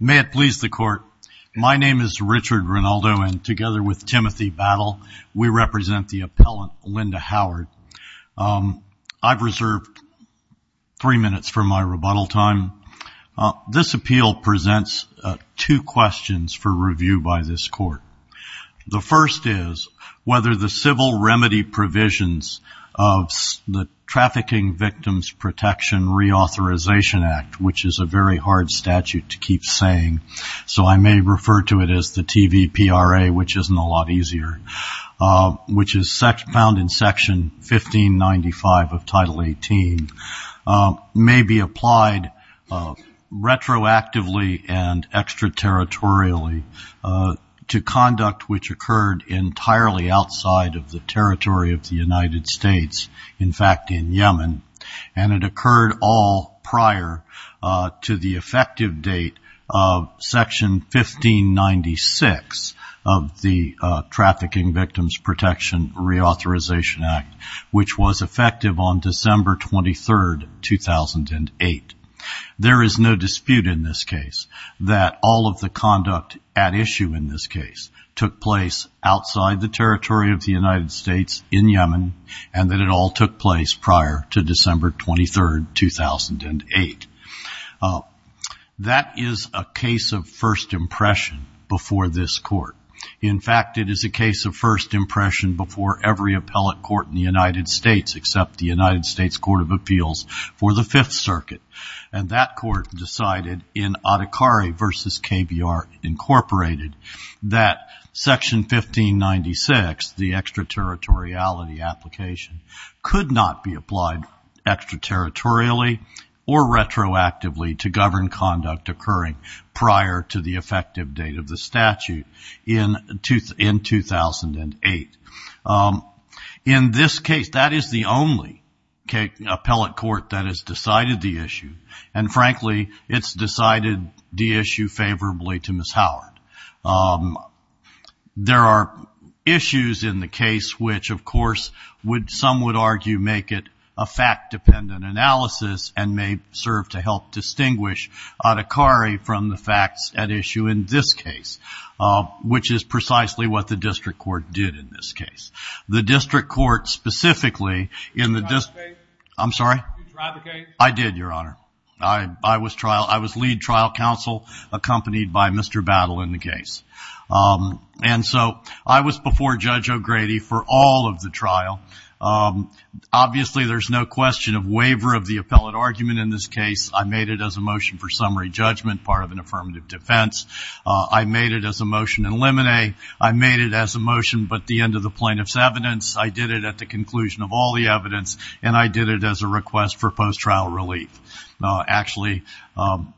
May it please the court. My name is Richard Rinaldo and together with Timothy Battle, we represent the appellant Linda Howard. I've reserved three minutes for my rebuttal time. This appeal presents two questions for review by this court. The first is whether the civil remedy provisions of the Trafficking Victims Protection Reauthorization Act, which is a very hard statute to keep saying, so I may refer to it as the TVPRA, which isn't a lot easier, which is found in Section 1595 of Title 18, may be applied retroactively and extraterritorially to conduct which occurred entirely outside of the territory of the United States, in fact in Yemen, and it occurred all prior to the effective date of Section 1596 of the Trafficking Victims Protection Reauthorization Act, which was effective on December 23, 2008. There is no dispute in this case that all of the conduct at issue in this case took place outside the territory of the United States in Yemen, and that it all took place prior to December 23, 2008. That is a case of first impression before this court. In fact, it is a case of first impression before every appellate court in the United States, except the United States Court of Appeals for the Fifth Circuit, and that court decided in Adhikari v. KBR, Inc., that Section 1596, the extraterritoriality application, could not be applied extraterritorially or retroactively to govern conduct occurring prior to the effective date of the statute. In 2008. In this case, that is the only appellate court that has decided the issue, and frankly it's decided the issue favorably to Ms. Howard. There are issues in the case which of course some would argue make it a fact-dependent analysis and may serve to help distinguish Adhikari from the facts at issue in this case. Which is precisely what the district court did in this case. The district court specifically in the district. Did you drive the case? I'm sorry? Did you drive the case? I did, Your Honor. I was lead trial counsel accompanied by Mr. Battle in the case. And so I was before Judge O'Grady for all of the trial. Obviously there's no question of waiver of the appellate argument in this case. I made it as a motion for summary judgment, part of an affirmative defense. I made it as a motion in limine. I made it as a motion but the end of the plaintiff's evidence. I did it at the conclusion of all the evidence. And I did it as a request for post-trial relief. Actually,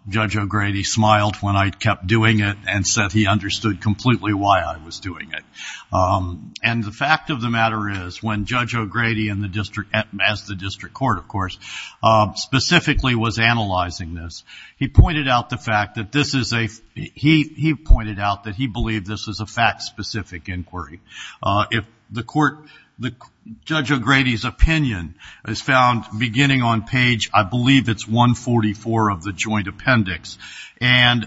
Judge O'Grady smiled when I kept doing it and said he understood completely why I was doing it. And the fact of the matter is when Judge O'Grady and the district, as the district court of course, specifically was analyzing this. He pointed out the fact that this is a, he pointed out that he believed this was a fact-specific inquiry. If the court, Judge O'Grady's opinion is found beginning on page, I believe it's 144 of the joint appendix. And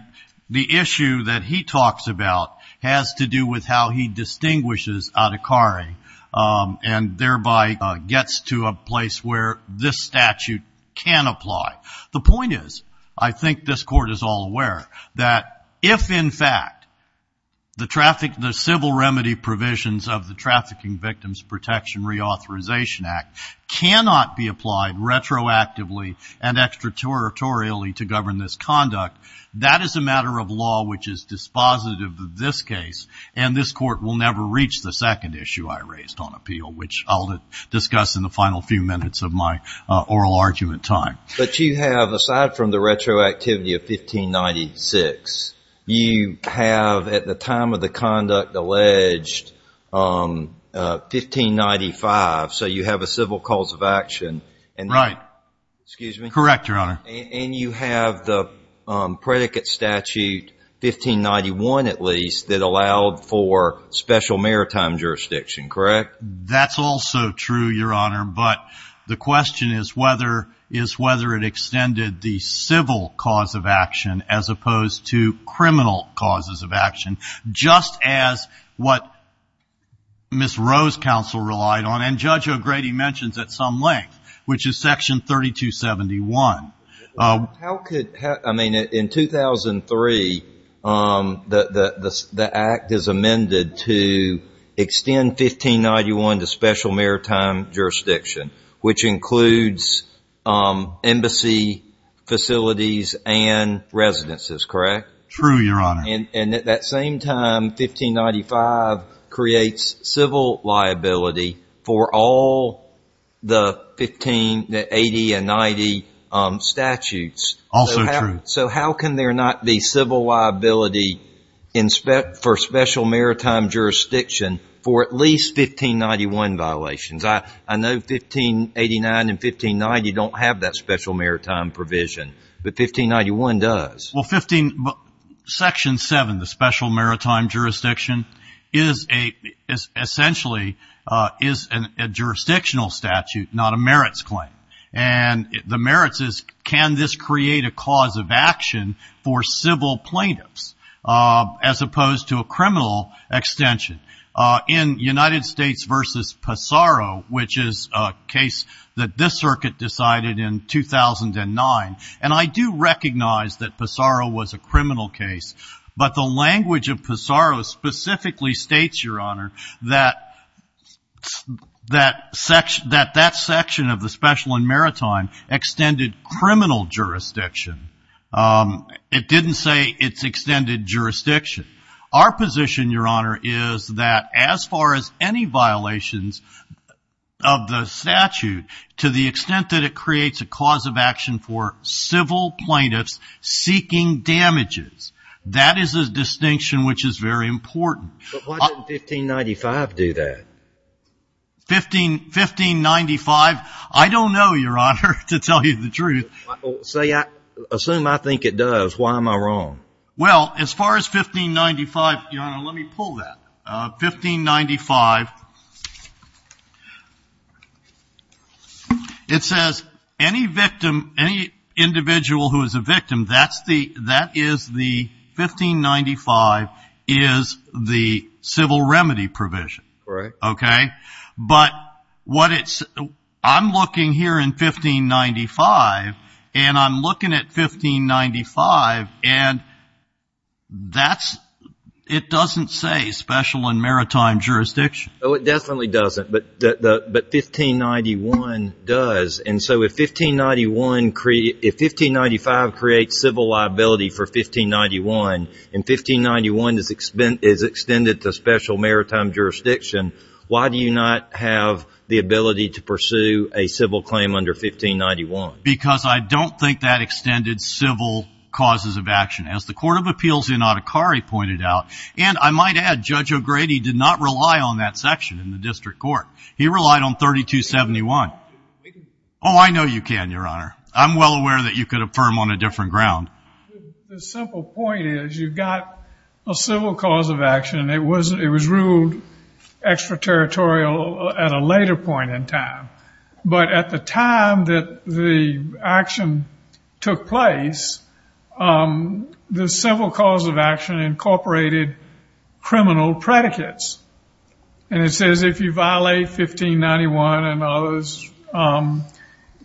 the issue that he talks about has to do with how he distinguishes Adhikari and thereby gets to a place where this statute can apply. The point is, I think this court is all aware, that if in fact the traffic, the civil remedy provisions of the Trafficking Victims Protection Reauthorization Act cannot be applied retroactively and extraterritorially to govern this conduct, that is a matter of law which is dispositive of this case and this court will never reach the second issue I raised on appeal, which I'll discuss in the final few minutes of my oral argument time. But you have, aside from the retroactivity of 1596, you have at the time of the conduct alleged, 1595, so you have a civil cause of action. Excuse me. Correct, Your Honor. And you have the predicate statute, 1591 at least, that allowed for special maritime jurisdiction, correct? That's also true, Your Honor, but the question is whether it extended the civil cause of action as opposed to criminal causes of action, just as what Ms. Rowe's counsel relied on, and Judge O'Grady mentions at some length, which is section 3271. How could, I mean, in 2003, the act is amended to extend 1591 to special maritime jurisdiction, which includes embassy facilities and residences, correct? True, Your Honor. And at that same time, 1595 creates civil liability for all the 1580 and 90 statutes. Also true. So how can there not be civil liability for special maritime jurisdiction for at least 1591 violations? I know 1589 and 1590 don't have that special maritime provision, but 1591 does. Well, section 7, the special maritime jurisdiction, essentially is a jurisdictional statute, not a merits claim. And the merits is can this create a cause of action for civil plaintiffs, as opposed to a criminal extension. In United States v. Pissarro, which is a case that this circuit decided in 2009, and I do recognize that Pissarro was a criminal case, but the language of Pissarro specifically states, Your Honor, that that section of the special and maritime extended criminal jurisdiction. It didn't say it's extended jurisdiction. Our position, Your Honor, is that as far as any violations of the statute, to the extent that it creates a cause of action for civil plaintiffs seeking damages, that is a distinction which is very important. But why didn't 1595 do that? 1595? I don't know, Your Honor, to tell you the truth. Assume I think it does. Why am I wrong? Well, as far as 1595, Your Honor, let me pull that. 1595, it says any victim, any individual who is a victim, that is the 1595 is the civil remedy provision. Right. Okay? But I'm looking here in 1595, and I'm looking at 1595, and it doesn't say special and maritime jurisdiction. Oh, it definitely doesn't. But 1591 does. And so if 1595 creates civil liability for 1591, and 1591 is extended to special maritime jurisdiction, why do you not have the ability to pursue a civil claim under 1591? Because I don't think that extended civil causes of action. As the Court of Appeals in Adhikari pointed out, and I might add Judge O'Grady did not rely on that section in the district court. He relied on 3271. Oh, I know you can, Your Honor. I'm well aware that you could affirm on a different ground. The simple point is you've got a civil cause of action, and it was ruled extraterritorial at a later point in time. But at the time that the action took place, the civil cause of action incorporated criminal predicates. And it says if you violate 1591 and others,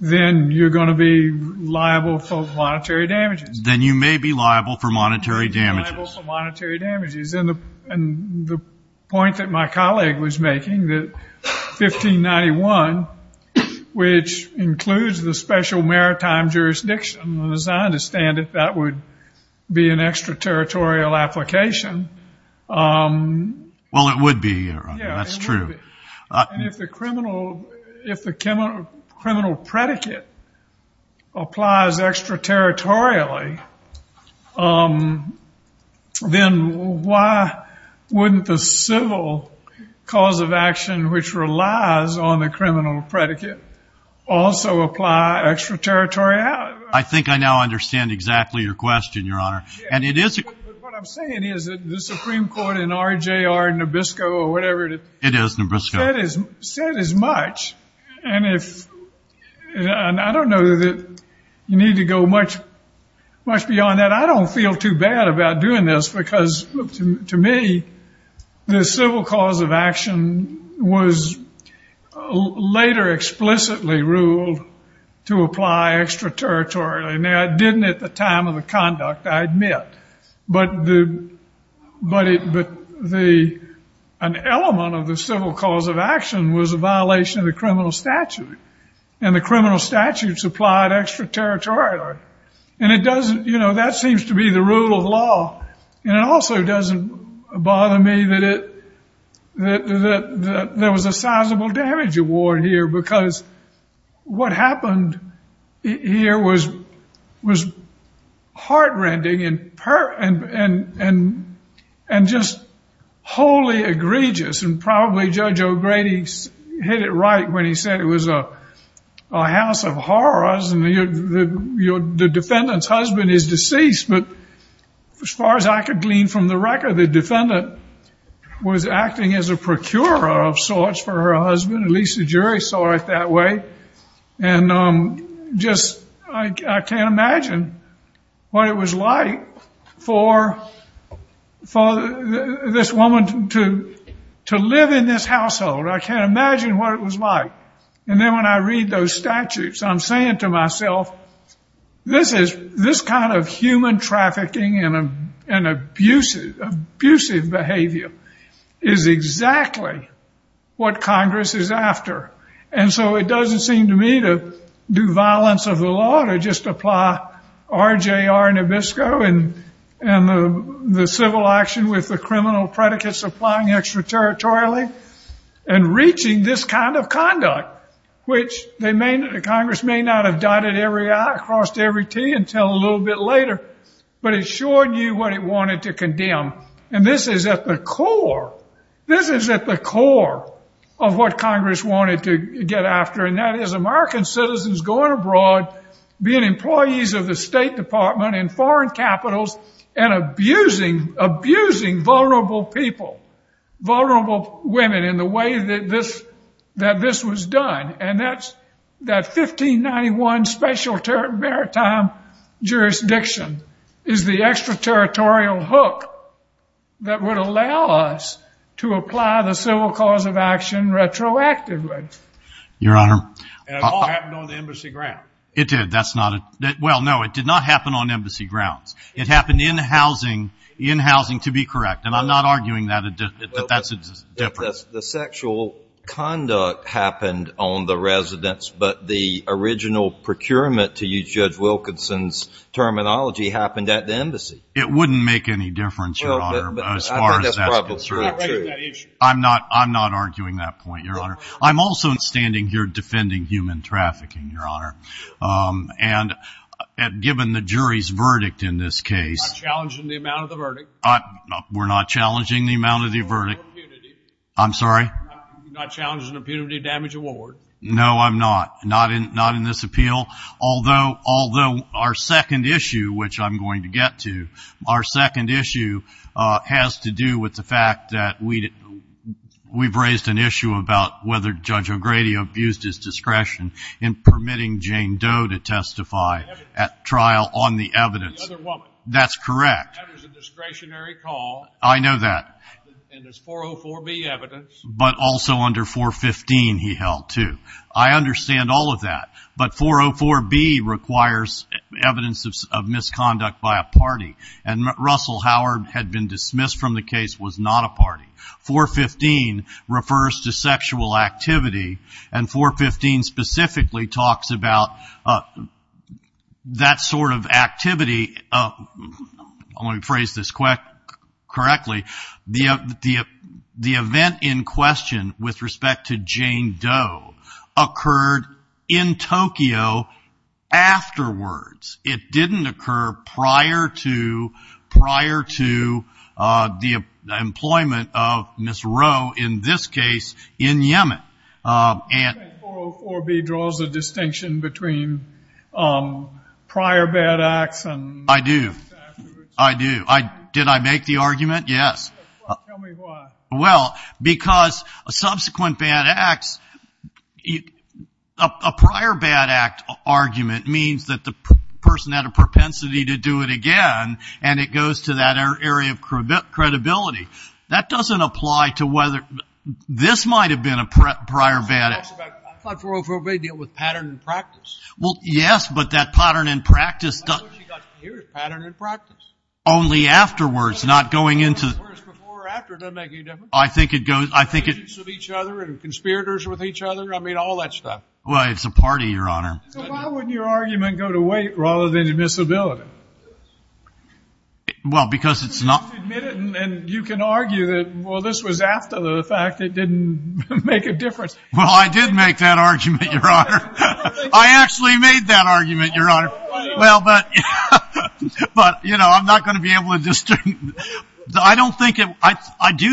then you're going to be liable for monetary damages. Then you may be liable for monetary damages. Liable for monetary damages. And the point that my colleague was making that 1591, which includes the special maritime jurisdiction, as I understand it, that would be an extraterritorial application. Well, it would be, Your Honor. That's true. And if the criminal predicate applies extraterritorially, then why wouldn't the civil cause of action, which relies on the criminal predicate, also apply extraterritorially? I think I now understand exactly your question, Your Honor. What I'm saying is that the Supreme Court in RJR Nabisco or whatever it is. It is Nabisco. Said as much. And I don't know that you need to go much beyond that. I don't feel too bad about doing this because, to me, the civil cause of action was later explicitly ruled to apply extraterritorially. Now, it didn't at the time of the conduct, I admit. But an element of the civil cause of action was a violation of the criminal statute. And the criminal statute supplied extraterritorially. And that seems to be the rule of law. And it also doesn't bother me that there was a sizable damage award here because what happened here was heart-rending and just wholly egregious. And probably Judge O'Grady hit it right when he said it was a house of horrors and the defendant's husband is deceased. But as far as I could glean from the record, the defendant was acting as a procurer of sorts for her husband. At least the jury saw it that way. And just I can't imagine what it was like for this woman to live in this household. I can't imagine what it was like. And then when I read those statutes, I'm saying to myself, this kind of human trafficking and abusive behavior is exactly what Congress is after. And so it doesn't seem to me to do violence of the law, to just apply RJR Nabisco and the civil action with the criminal predicates applying extraterritorially and reaching this kind of conduct, which Congress may not have dotted across every T until a little bit later, but it sure knew what it wanted to condemn. And this is at the core. This is at the core of what Congress wanted to get after, and that is American citizens going abroad, being employees of the State Department in foreign capitals, and abusing vulnerable people, vulnerable women in the way that this was done. And that's that 1591 special maritime jurisdiction is the extraterritorial hook that would allow us to apply the civil cause of action retroactively. Your Honor. And it all happened on the embassy grounds. It did. Well, no, it did not happen on embassy grounds. It happened in housing, in housing, to be correct, and I'm not arguing that that's a difference. The sexual conduct happened on the residence, but the original procurement, to use Judge Wilkinson's terminology, happened at the embassy. It wouldn't make any difference, Your Honor, as far as that's concerned. I'm not arguing that issue. I'm not arguing that point, Your Honor. I'm also standing here defending human trafficking, Your Honor, and given the jury's verdict in this case. We're not challenging the amount of the verdict. We're not challenging the amount of the verdict. I'm sorry? We're not challenging the punitive damage award. No, I'm not, not in this appeal. Although our second issue, which I'm going to get to, our second issue has to do with the fact that we've raised an issue about whether Judge O'Grady abused his discretion in permitting Jane Doe to testify at trial on the evidence. The other woman. That's correct. That was a discretionary call. I know that. And it's 404B evidence. But also under 415 he held, too. I understand all of that, but 404B requires evidence of misconduct by a party, and Russell Howard had been dismissed from the case, was not a party. 415 refers to sexual activity, and 415 specifically talks about that sort of activity. Let me phrase this correctly. The event in question with respect to Jane Doe occurred in Tokyo afterwards. It didn't occur prior to the employment of Ms. Roe, in this case, in Yemen. 404B draws a distinction between prior bad acts and afterwards. I do. I do. Did I make the argument? Yes. Tell me why. Well, because subsequent bad acts, a prior bad act argument means that the person had a propensity to do it again, and it goes to that area of credibility. That doesn't apply to whether this might have been a prior bad act. I thought 404B dealt with pattern and practice. Well, yes, but that pattern and practice doesn't. Here's pattern and practice. Only afterwards, not going into. Whereas before or after doesn't make any difference. I think it goes. Relationships with each other and conspirators with each other, I mean, all that stuff. Well, it's a party, Your Honor. So why wouldn't your argument go to weight rather than admissibility? Well, because it's not. You have to admit it, and you can argue that, well, this was after the fact. It didn't make a difference. Well, I did make that argument, Your Honor. I actually made that argument, Your Honor. Well, but, you know, I'm not going to be able to just do it. I do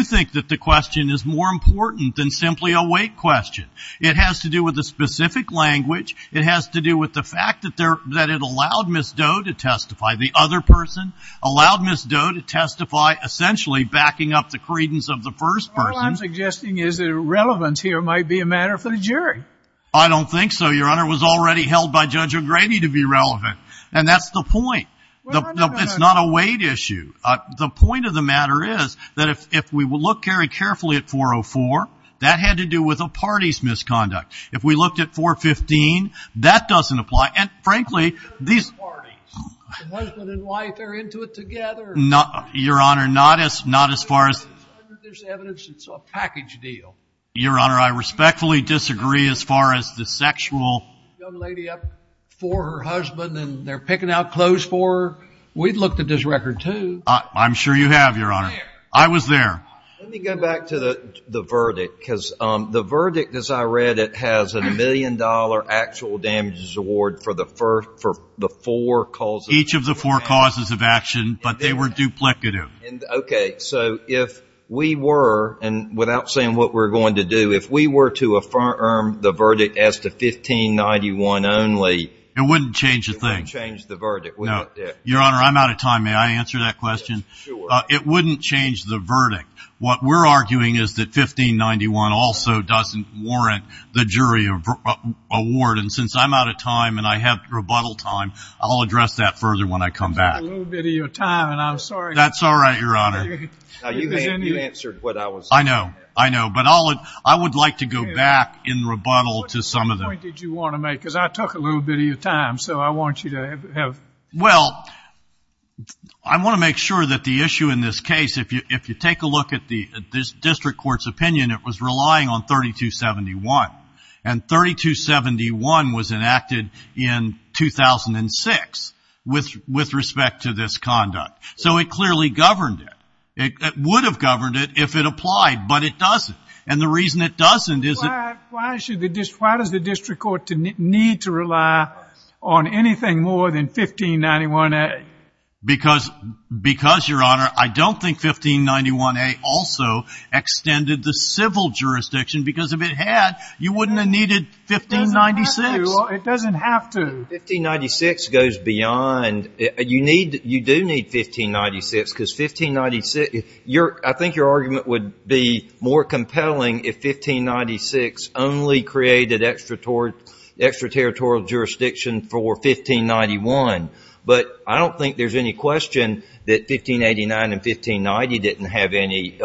think that the question is more important than simply a weight question. It has to do with the specific language. It has to do with the fact that it allowed Ms. Doe to testify. The other person allowed Ms. Doe to testify, essentially backing up the credence of the first person. All I'm suggesting is that relevance here might be a matter for the jury. I don't think so, Your Honor. The matter was already held by Judge O'Grady to be relevant, and that's the point. It's not a weight issue. The point of the matter is that if we look very carefully at 404, that had to do with a party's misconduct. If we looked at 415, that doesn't apply. And, frankly, these – Husband and wife are into it together. Your Honor, not as far as – There's evidence it's a package deal. Your Honor, I respectfully disagree as far as the sexual – Young lady up for her husband, and they're picking out clothes for her. We've looked at this record, too. I'm sure you have, Your Honor. I was there. Let me go back to the verdict, because the verdict, as I read it, has a million-dollar actual damages award for the four causes – Each of the four causes of action, but they were duplicative. Okay. So if we were – And without saying what we're going to do, if we were to affirm the verdict as to 1591 only – It wouldn't change a thing. It wouldn't change the verdict. No. Your Honor, I'm out of time. May I answer that question? Sure. It wouldn't change the verdict. What we're arguing is that 1591 also doesn't warrant the jury award, and since I'm out of time and I have rebuttal time, I'll address that further when I come back. I took a little bit of your time, and I'm sorry. That's all right, Your Honor. You answered what I was saying. I know. I know. But I would like to go back in rebuttal to some of the – What point did you want to make? Because I took a little bit of your time, so I want you to have – Well, I want to make sure that the issue in this case, if you take a look at this district court's opinion, it was relying on 3271. And 3271 was enacted in 2006 with respect to this conduct. So it clearly governed it. It would have governed it if it applied, but it doesn't. And the reason it doesn't is that – Why does the district court need to rely on anything more than 1591A? Because, Your Honor, I don't think 1591A also extended the civil jurisdiction because if it had, you wouldn't have needed 1596. It doesn't have to. 1596 goes beyond. You do need 1596 because 1596 – I think your argument would be more compelling if 1596 only created extraterritorial jurisdiction for 1591. But I don't think there's any question that 1589 and 1590 didn't have any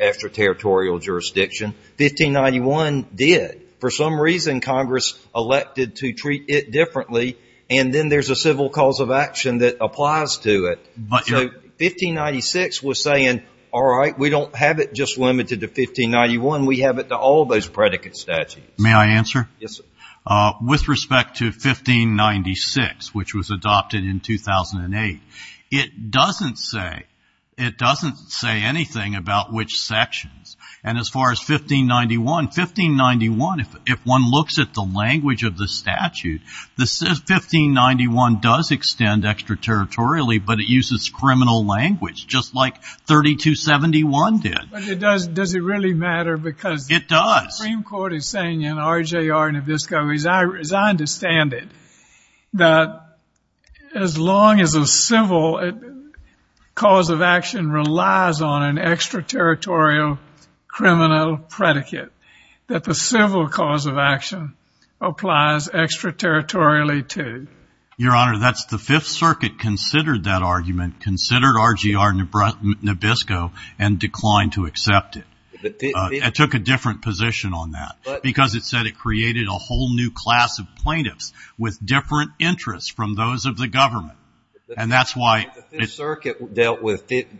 extraterritorial jurisdiction. 1591 did. For some reason, Congress elected to treat it differently, and then there's a civil cause of action that applies to it. So 1596 was saying, all right, we don't have it just limited to 1591. We have it to all those predicate statutes. May I answer? Yes, sir. With respect to 1596, which was adopted in 2008, it doesn't say anything about which sections. And as far as 1591, 1591, if one looks at the language of the statute, 1591 does extend extraterritorially, but it uses criminal language, just like 3271 did. But does it really matter? It does. The Supreme Court is saying in RJR Nabisco, as I understand it, that as long as a civil cause of action relies on an extraterritorial criminal predicate, that the civil cause of action applies extraterritorially too. Your Honor, that's the Fifth Circuit considered that argument, considered RJR Nabisco, and declined to accept it. It took a different position on that because it said it created a whole new class of plaintiffs with different interests from those of the government. And that's why the Fifth Circuit dealt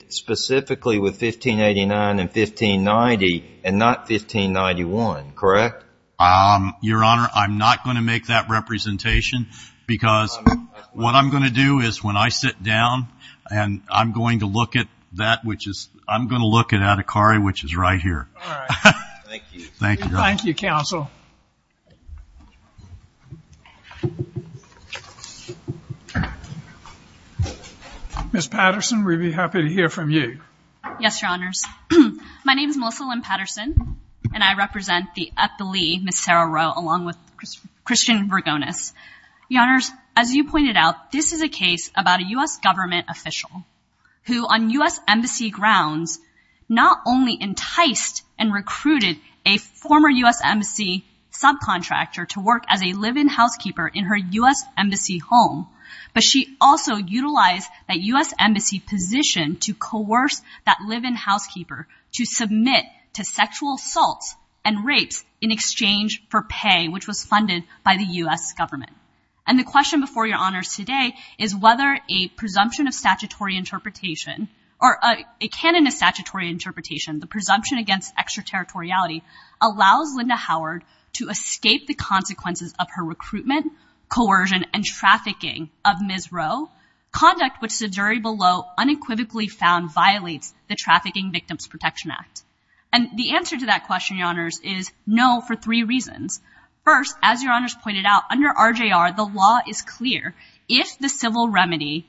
specifically with 1589 and 1590 and not 1591, correct? Your Honor, I'm not going to make that representation because what I'm going to do is when I sit down and I'm going to look at that, which is I'm going to look at Adhikari, which is right here. All right. Thank you. Thank you. Thank you, counsel. Ms. Patterson, we'd be happy to hear from you. Yes, Your Honors. My name is Melissa Lynn Patterson, and I represent the Eppley, Ms. Sarah Rowe, along with Christian Vergonis. Your Honors, as you pointed out, this is a case about a U.S. government official who on U.S. former U.S. Embassy subcontractor to work as a live-in housekeeper in her U.S. Embassy home. But she also utilized that U.S. Embassy position to coerce that live-in housekeeper to submit to sexual assaults and rapes in exchange for pay, which was funded by the U.S. government. And the question before Your Honors today is whether a presumption of statutory interpretation or a canon of statutory interpretation, the presumption against extraterritoriality, allows Linda Howard to escape the consequences of her recruitment, coercion, and trafficking of Ms. Rowe, conduct which the jury below unequivocally found violates the Trafficking Victims Protection Act. And the answer to that question, Your Honors, is no for three reasons. First, as Your Honors pointed out, under RJR, the law is clear. If the civil remedy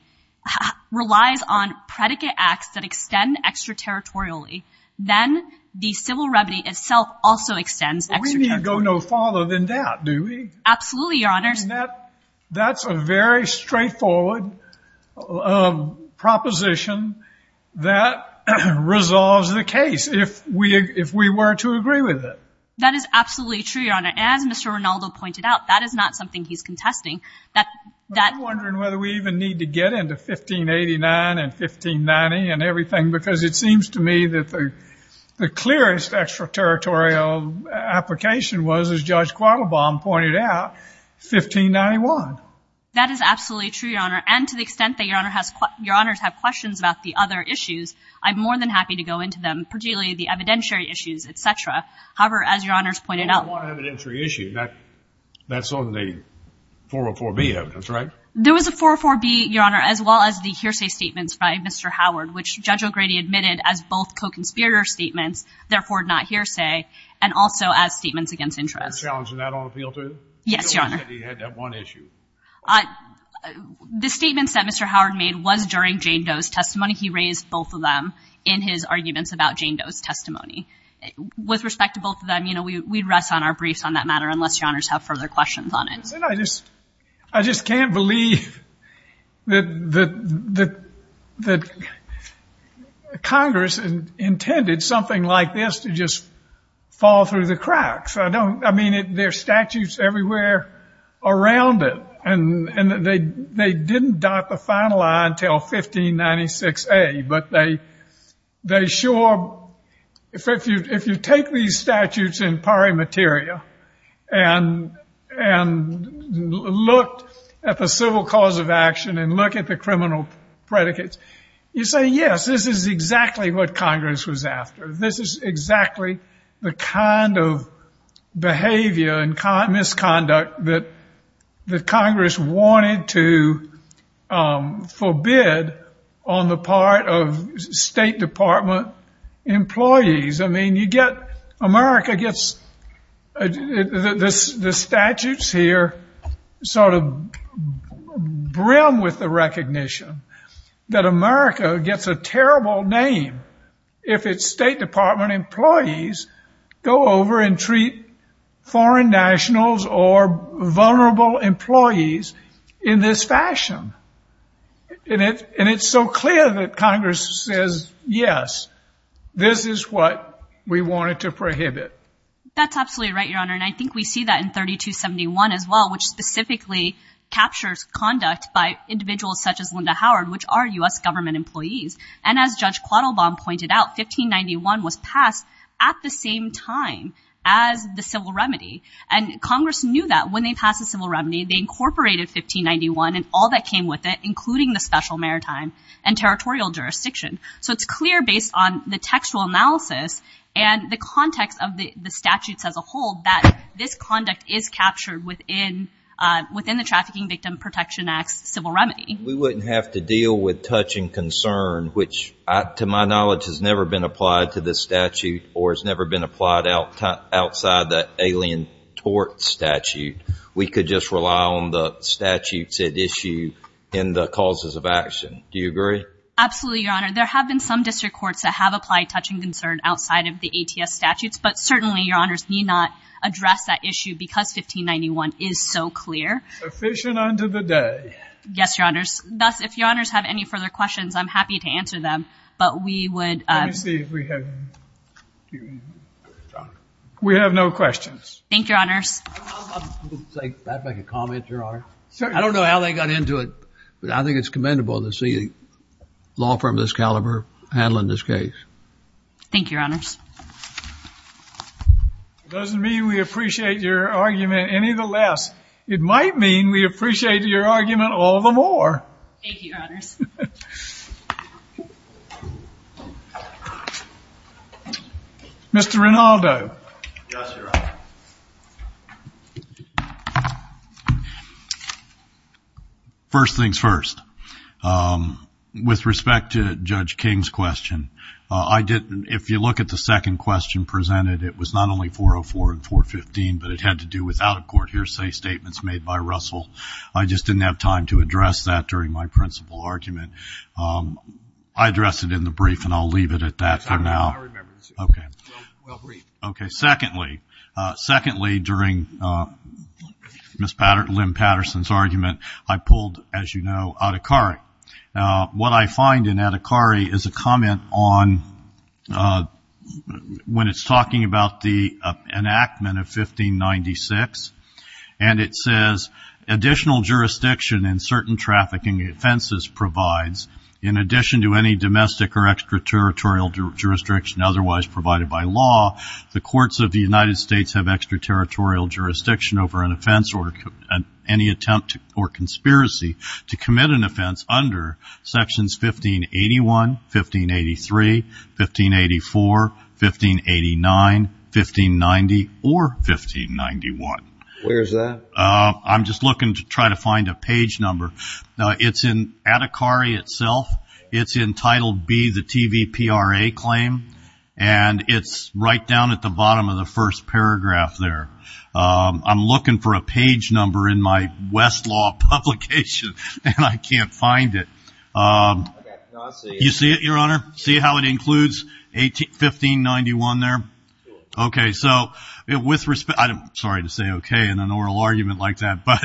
relies on predicate acts that extend extraterritorially, then the civil remedy itself also extends extraterritorially. We need go no farther than that, do we? Absolutely, Your Honors. And that's a very straightforward proposition that resolves the case, if we were to agree with it. That is absolutely true, Your Honor. And as Mr. Rinaldo pointed out, that is not something he's contesting. I'm wondering whether we even need to get into 1589 and 1590 and everything because it seems to me that the clearest extraterritorial application was, as Judge Quattlebaum pointed out, 1591. That is absolutely true, Your Honor. And to the extent that Your Honors have questions about the other issues, I'm more than happy to go into them, particularly the evidentiary issues, et cetera. However, as Your Honors pointed out. What evidentiary issue? That's on the 404B evidence, right? There was a 404B, Your Honor, as well as the hearsay statements by Mr. Howard, which Judge O'Grady admitted as both co-conspirator statements, therefore not hearsay, and also as statements against interest. Challenging that on appeal, too? Yes, Your Honor. He said he had that one issue. The statements that Mr. Howard made was during Jane Doe's testimony. He raised both of them in his arguments about Jane Doe's testimony. With respect to both of them, you know, we'd rest on our briefs on that matter unless Your Honors have further questions on it. I just can't believe that Congress intended something like this to just fall through the cracks. I mean, there are statutes everywhere around it. And they didn't dot the final I until 1596A. But they sure, if you take these statutes in pari materia and look at the civil cause of action and look at the criminal predicates, you say, yes, this is exactly what Congress was after. This is exactly the kind of behavior and misconduct that Congress wanted to forbid on the part of State Department employees. I mean, you get, America gets, the statutes here sort of brim with the recognition that America gets a terrible name if its State Department employees go over and treat foreign nationals or vulnerable employees in this fashion. And it's so clear that Congress says, yes, this is what we wanted to prohibit. That's absolutely right, Your Honor. And I think we see that in 3271 as well, which specifically captures conduct by individuals such as Linda Howard, which are U.S. government employees. And as Judge Quattlebaum pointed out, 1591 was passed at the same time as the civil remedy. And Congress knew that when they passed the civil remedy, they incorporated 1591 and all that came with it, including the special maritime and territorial jurisdiction. So it's clear based on the textual analysis and the context of the statutes as a whole that this conduct is captured within the Trafficking Victim Protection Act's civil remedy. We wouldn't have to deal with touch and concern, which, to my knowledge, has never been applied to this statute or has never been applied outside the Alien Tort Statute. We could just rely on the statutes at issue in the causes of action. Do you agree? Absolutely, Your Honor. There have been some district courts that have applied touch and concern outside of the ATS statutes. But certainly, Your Honors, we need not address that issue because 1591 is so clear. Sufficient unto the day. Yes, Your Honors. Thus, if Your Honors have any further questions, I'm happy to answer them. But we would— Let me see if we have— We have no questions. Thank you, Your Honors. I'd like to make a comment, Your Honor. I don't know how they got into it, but I think it's commendable to see a law firm of this caliber handling this case. Thank you, Your Honors. It doesn't mean we appreciate your argument any the less. It might mean we appreciate your argument all the more. Thank you, Your Honors. Mr. Rinaldo. Yes, Your Honor. First things first. With respect to Judge King's question, I didn't— If you look at the second question presented, it was not only 404 and 415, but it had to do with out-of-court hearsay statements made by Russell. I just didn't have time to address that during my principal argument. I addressed it in the brief, and I'll leave it at that for now. I remember. Okay. Well, brief. Okay. Secondly, during Ms. Lynn Patterson's argument, I pulled, as you know, Adhikari. What I find in Adhikari is a comment on—when it's talking about the enactment of 1596, and it says, additional jurisdiction in certain trafficking offenses provides, in addition to any domestic or extraterritorial jurisdiction otherwise provided by law, the courts of the United States have extraterritorial jurisdiction over an offense or any attempt or conspiracy to commit an offense under Sections 1581, 1583, 1584, 1589, 1590, or 1591. Where is that? I'm just looking to try to find a page number. It's in Adhikari itself. It's in Title B, the TVPRA claim, and it's right down at the bottom of the first paragraph there. I'm looking for a page number in my Westlaw publication, and I can't find it. You see it, Your Honor? See how it includes 1591 there? Okay. Sorry to say okay in an oral argument like that, but,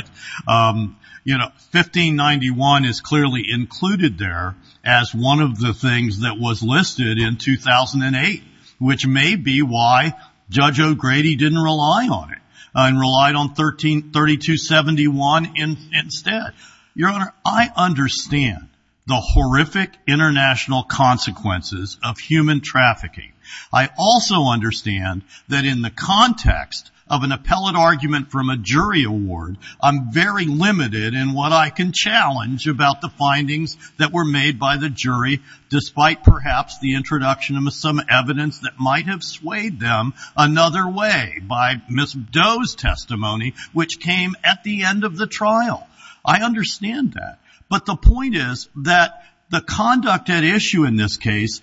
you know, 1591 is clearly included there as one of the things that was listed in 2008, which may be why Judge O'Grady didn't rely on it and relied on 3271 instead. Your Honor, I understand the horrific international consequences of human trafficking. I also understand that in the context of an appellate argument from a jury award, I'm very limited in what I can challenge about the findings that were made by the jury, despite perhaps the introduction of some evidence that might have swayed them another way by Ms. Doe's testimony, which came at the end of the trial. I understand that. But the point is that the conduct at issue in this case,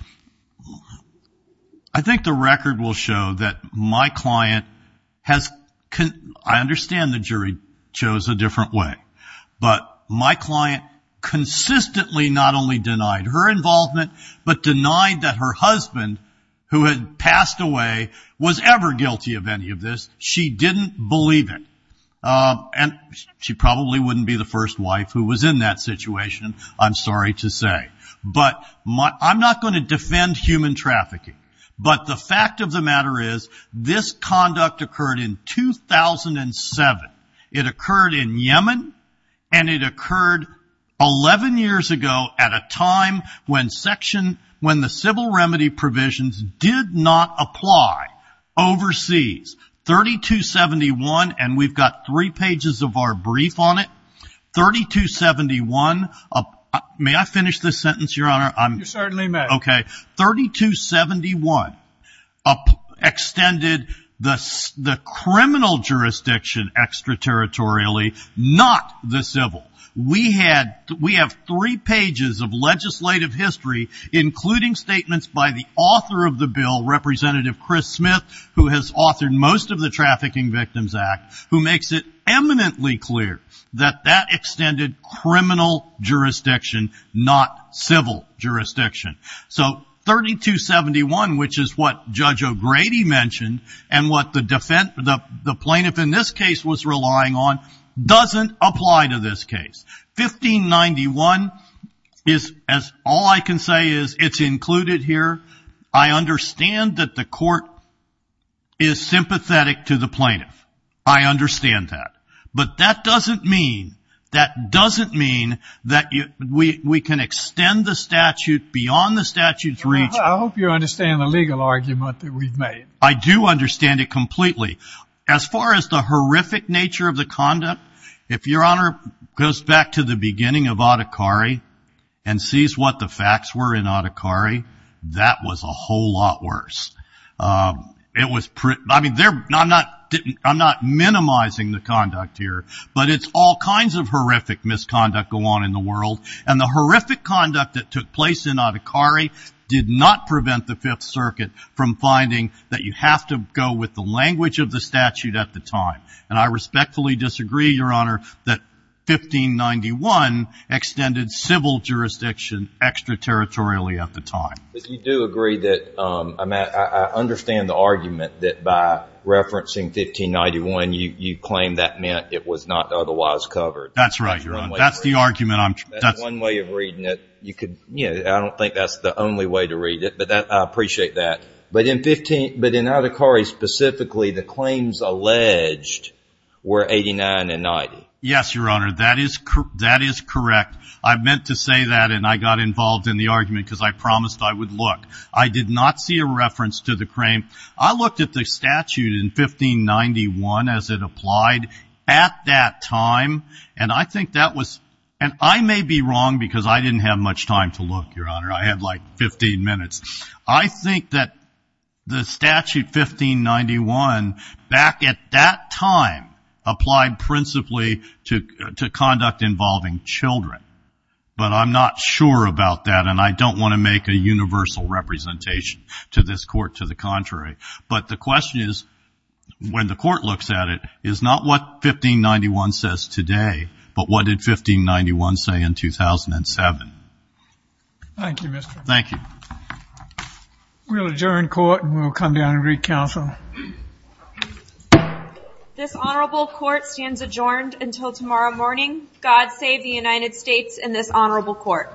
I think the record will show that my client has, I understand the jury chose a different way, but my client consistently not only denied her involvement, but denied that her husband, who had passed away, was ever guilty of any of this. She didn't believe it. And she probably wouldn't be the first wife who was in that situation, I'm sorry to say. But I'm not going to defend human trafficking. But the fact of the matter is this conduct occurred in 2007. It occurred in Yemen, and it occurred 11 years ago at a time when the civil remedy provisions did not apply overseas. 3271, and we've got three pages of our brief on it. 3271, may I finish this sentence, Your Honor? You certainly may. Okay. 3271 extended the criminal jurisdiction extraterritorially, not the civil. We have three pages of legislative history, including statements by the author of the bill, Representative Chris Smith, who has authored most of the Trafficking Victims Act, who makes it eminently clear that that extended criminal jurisdiction, not civil jurisdiction. So 3271, which is what Judge O'Grady mentioned, and what the plaintiff in this case was relying on, doesn't apply to this case. 1591, all I can say is it's included here. I understand that the court is sympathetic to the plaintiff. I understand that. But that doesn't mean that we can extend the statute beyond the statute's reach. I hope you understand the legal argument that we've made. I do understand it completely. As far as the horrific nature of the conduct, if Your Honor goes back to the beginning of Adhikari and sees what the facts were in Adhikari, that was a whole lot worse. I'm not minimizing the conduct here, but it's all kinds of horrific misconduct going on in the world, and the horrific conduct that took place in Adhikari did not prevent the Fifth Circuit from finding that you have to go with the language of the statute at the time. And I respectfully disagree, Your Honor, that 1591 extended civil jurisdiction extraterritorially at the time. But you do agree that I understand the argument that by referencing 1591, you claim that meant it was not otherwise covered. That's right, Your Honor. That's one way of reading it. I don't think that's the only way to read it. But I appreciate that. But in Adhikari specifically, the claims alleged were 89 and 90. Yes, Your Honor, that is correct. I meant to say that, and I got involved in the argument because I promised I would look. I did not see a reference to the claim. I looked at the statute in 1591 as it applied at that time, and I think that was – and I may be wrong because I didn't have much time to look, Your Honor. I had like 15 minutes. I think that the statute, 1591, back at that time, applied principally to conduct involving children. But I'm not sure about that, and I don't want to make a universal representation to this Court to the contrary. But the question is, when the Court looks at it, is not what 1591 says today, but what did 1591 say in 2007? Thank you, Mr. Farrell. Thank you. We'll adjourn court and we'll come down and recounsel. This honorable court stands adjourned until tomorrow morning. God save the United States and this honorable court.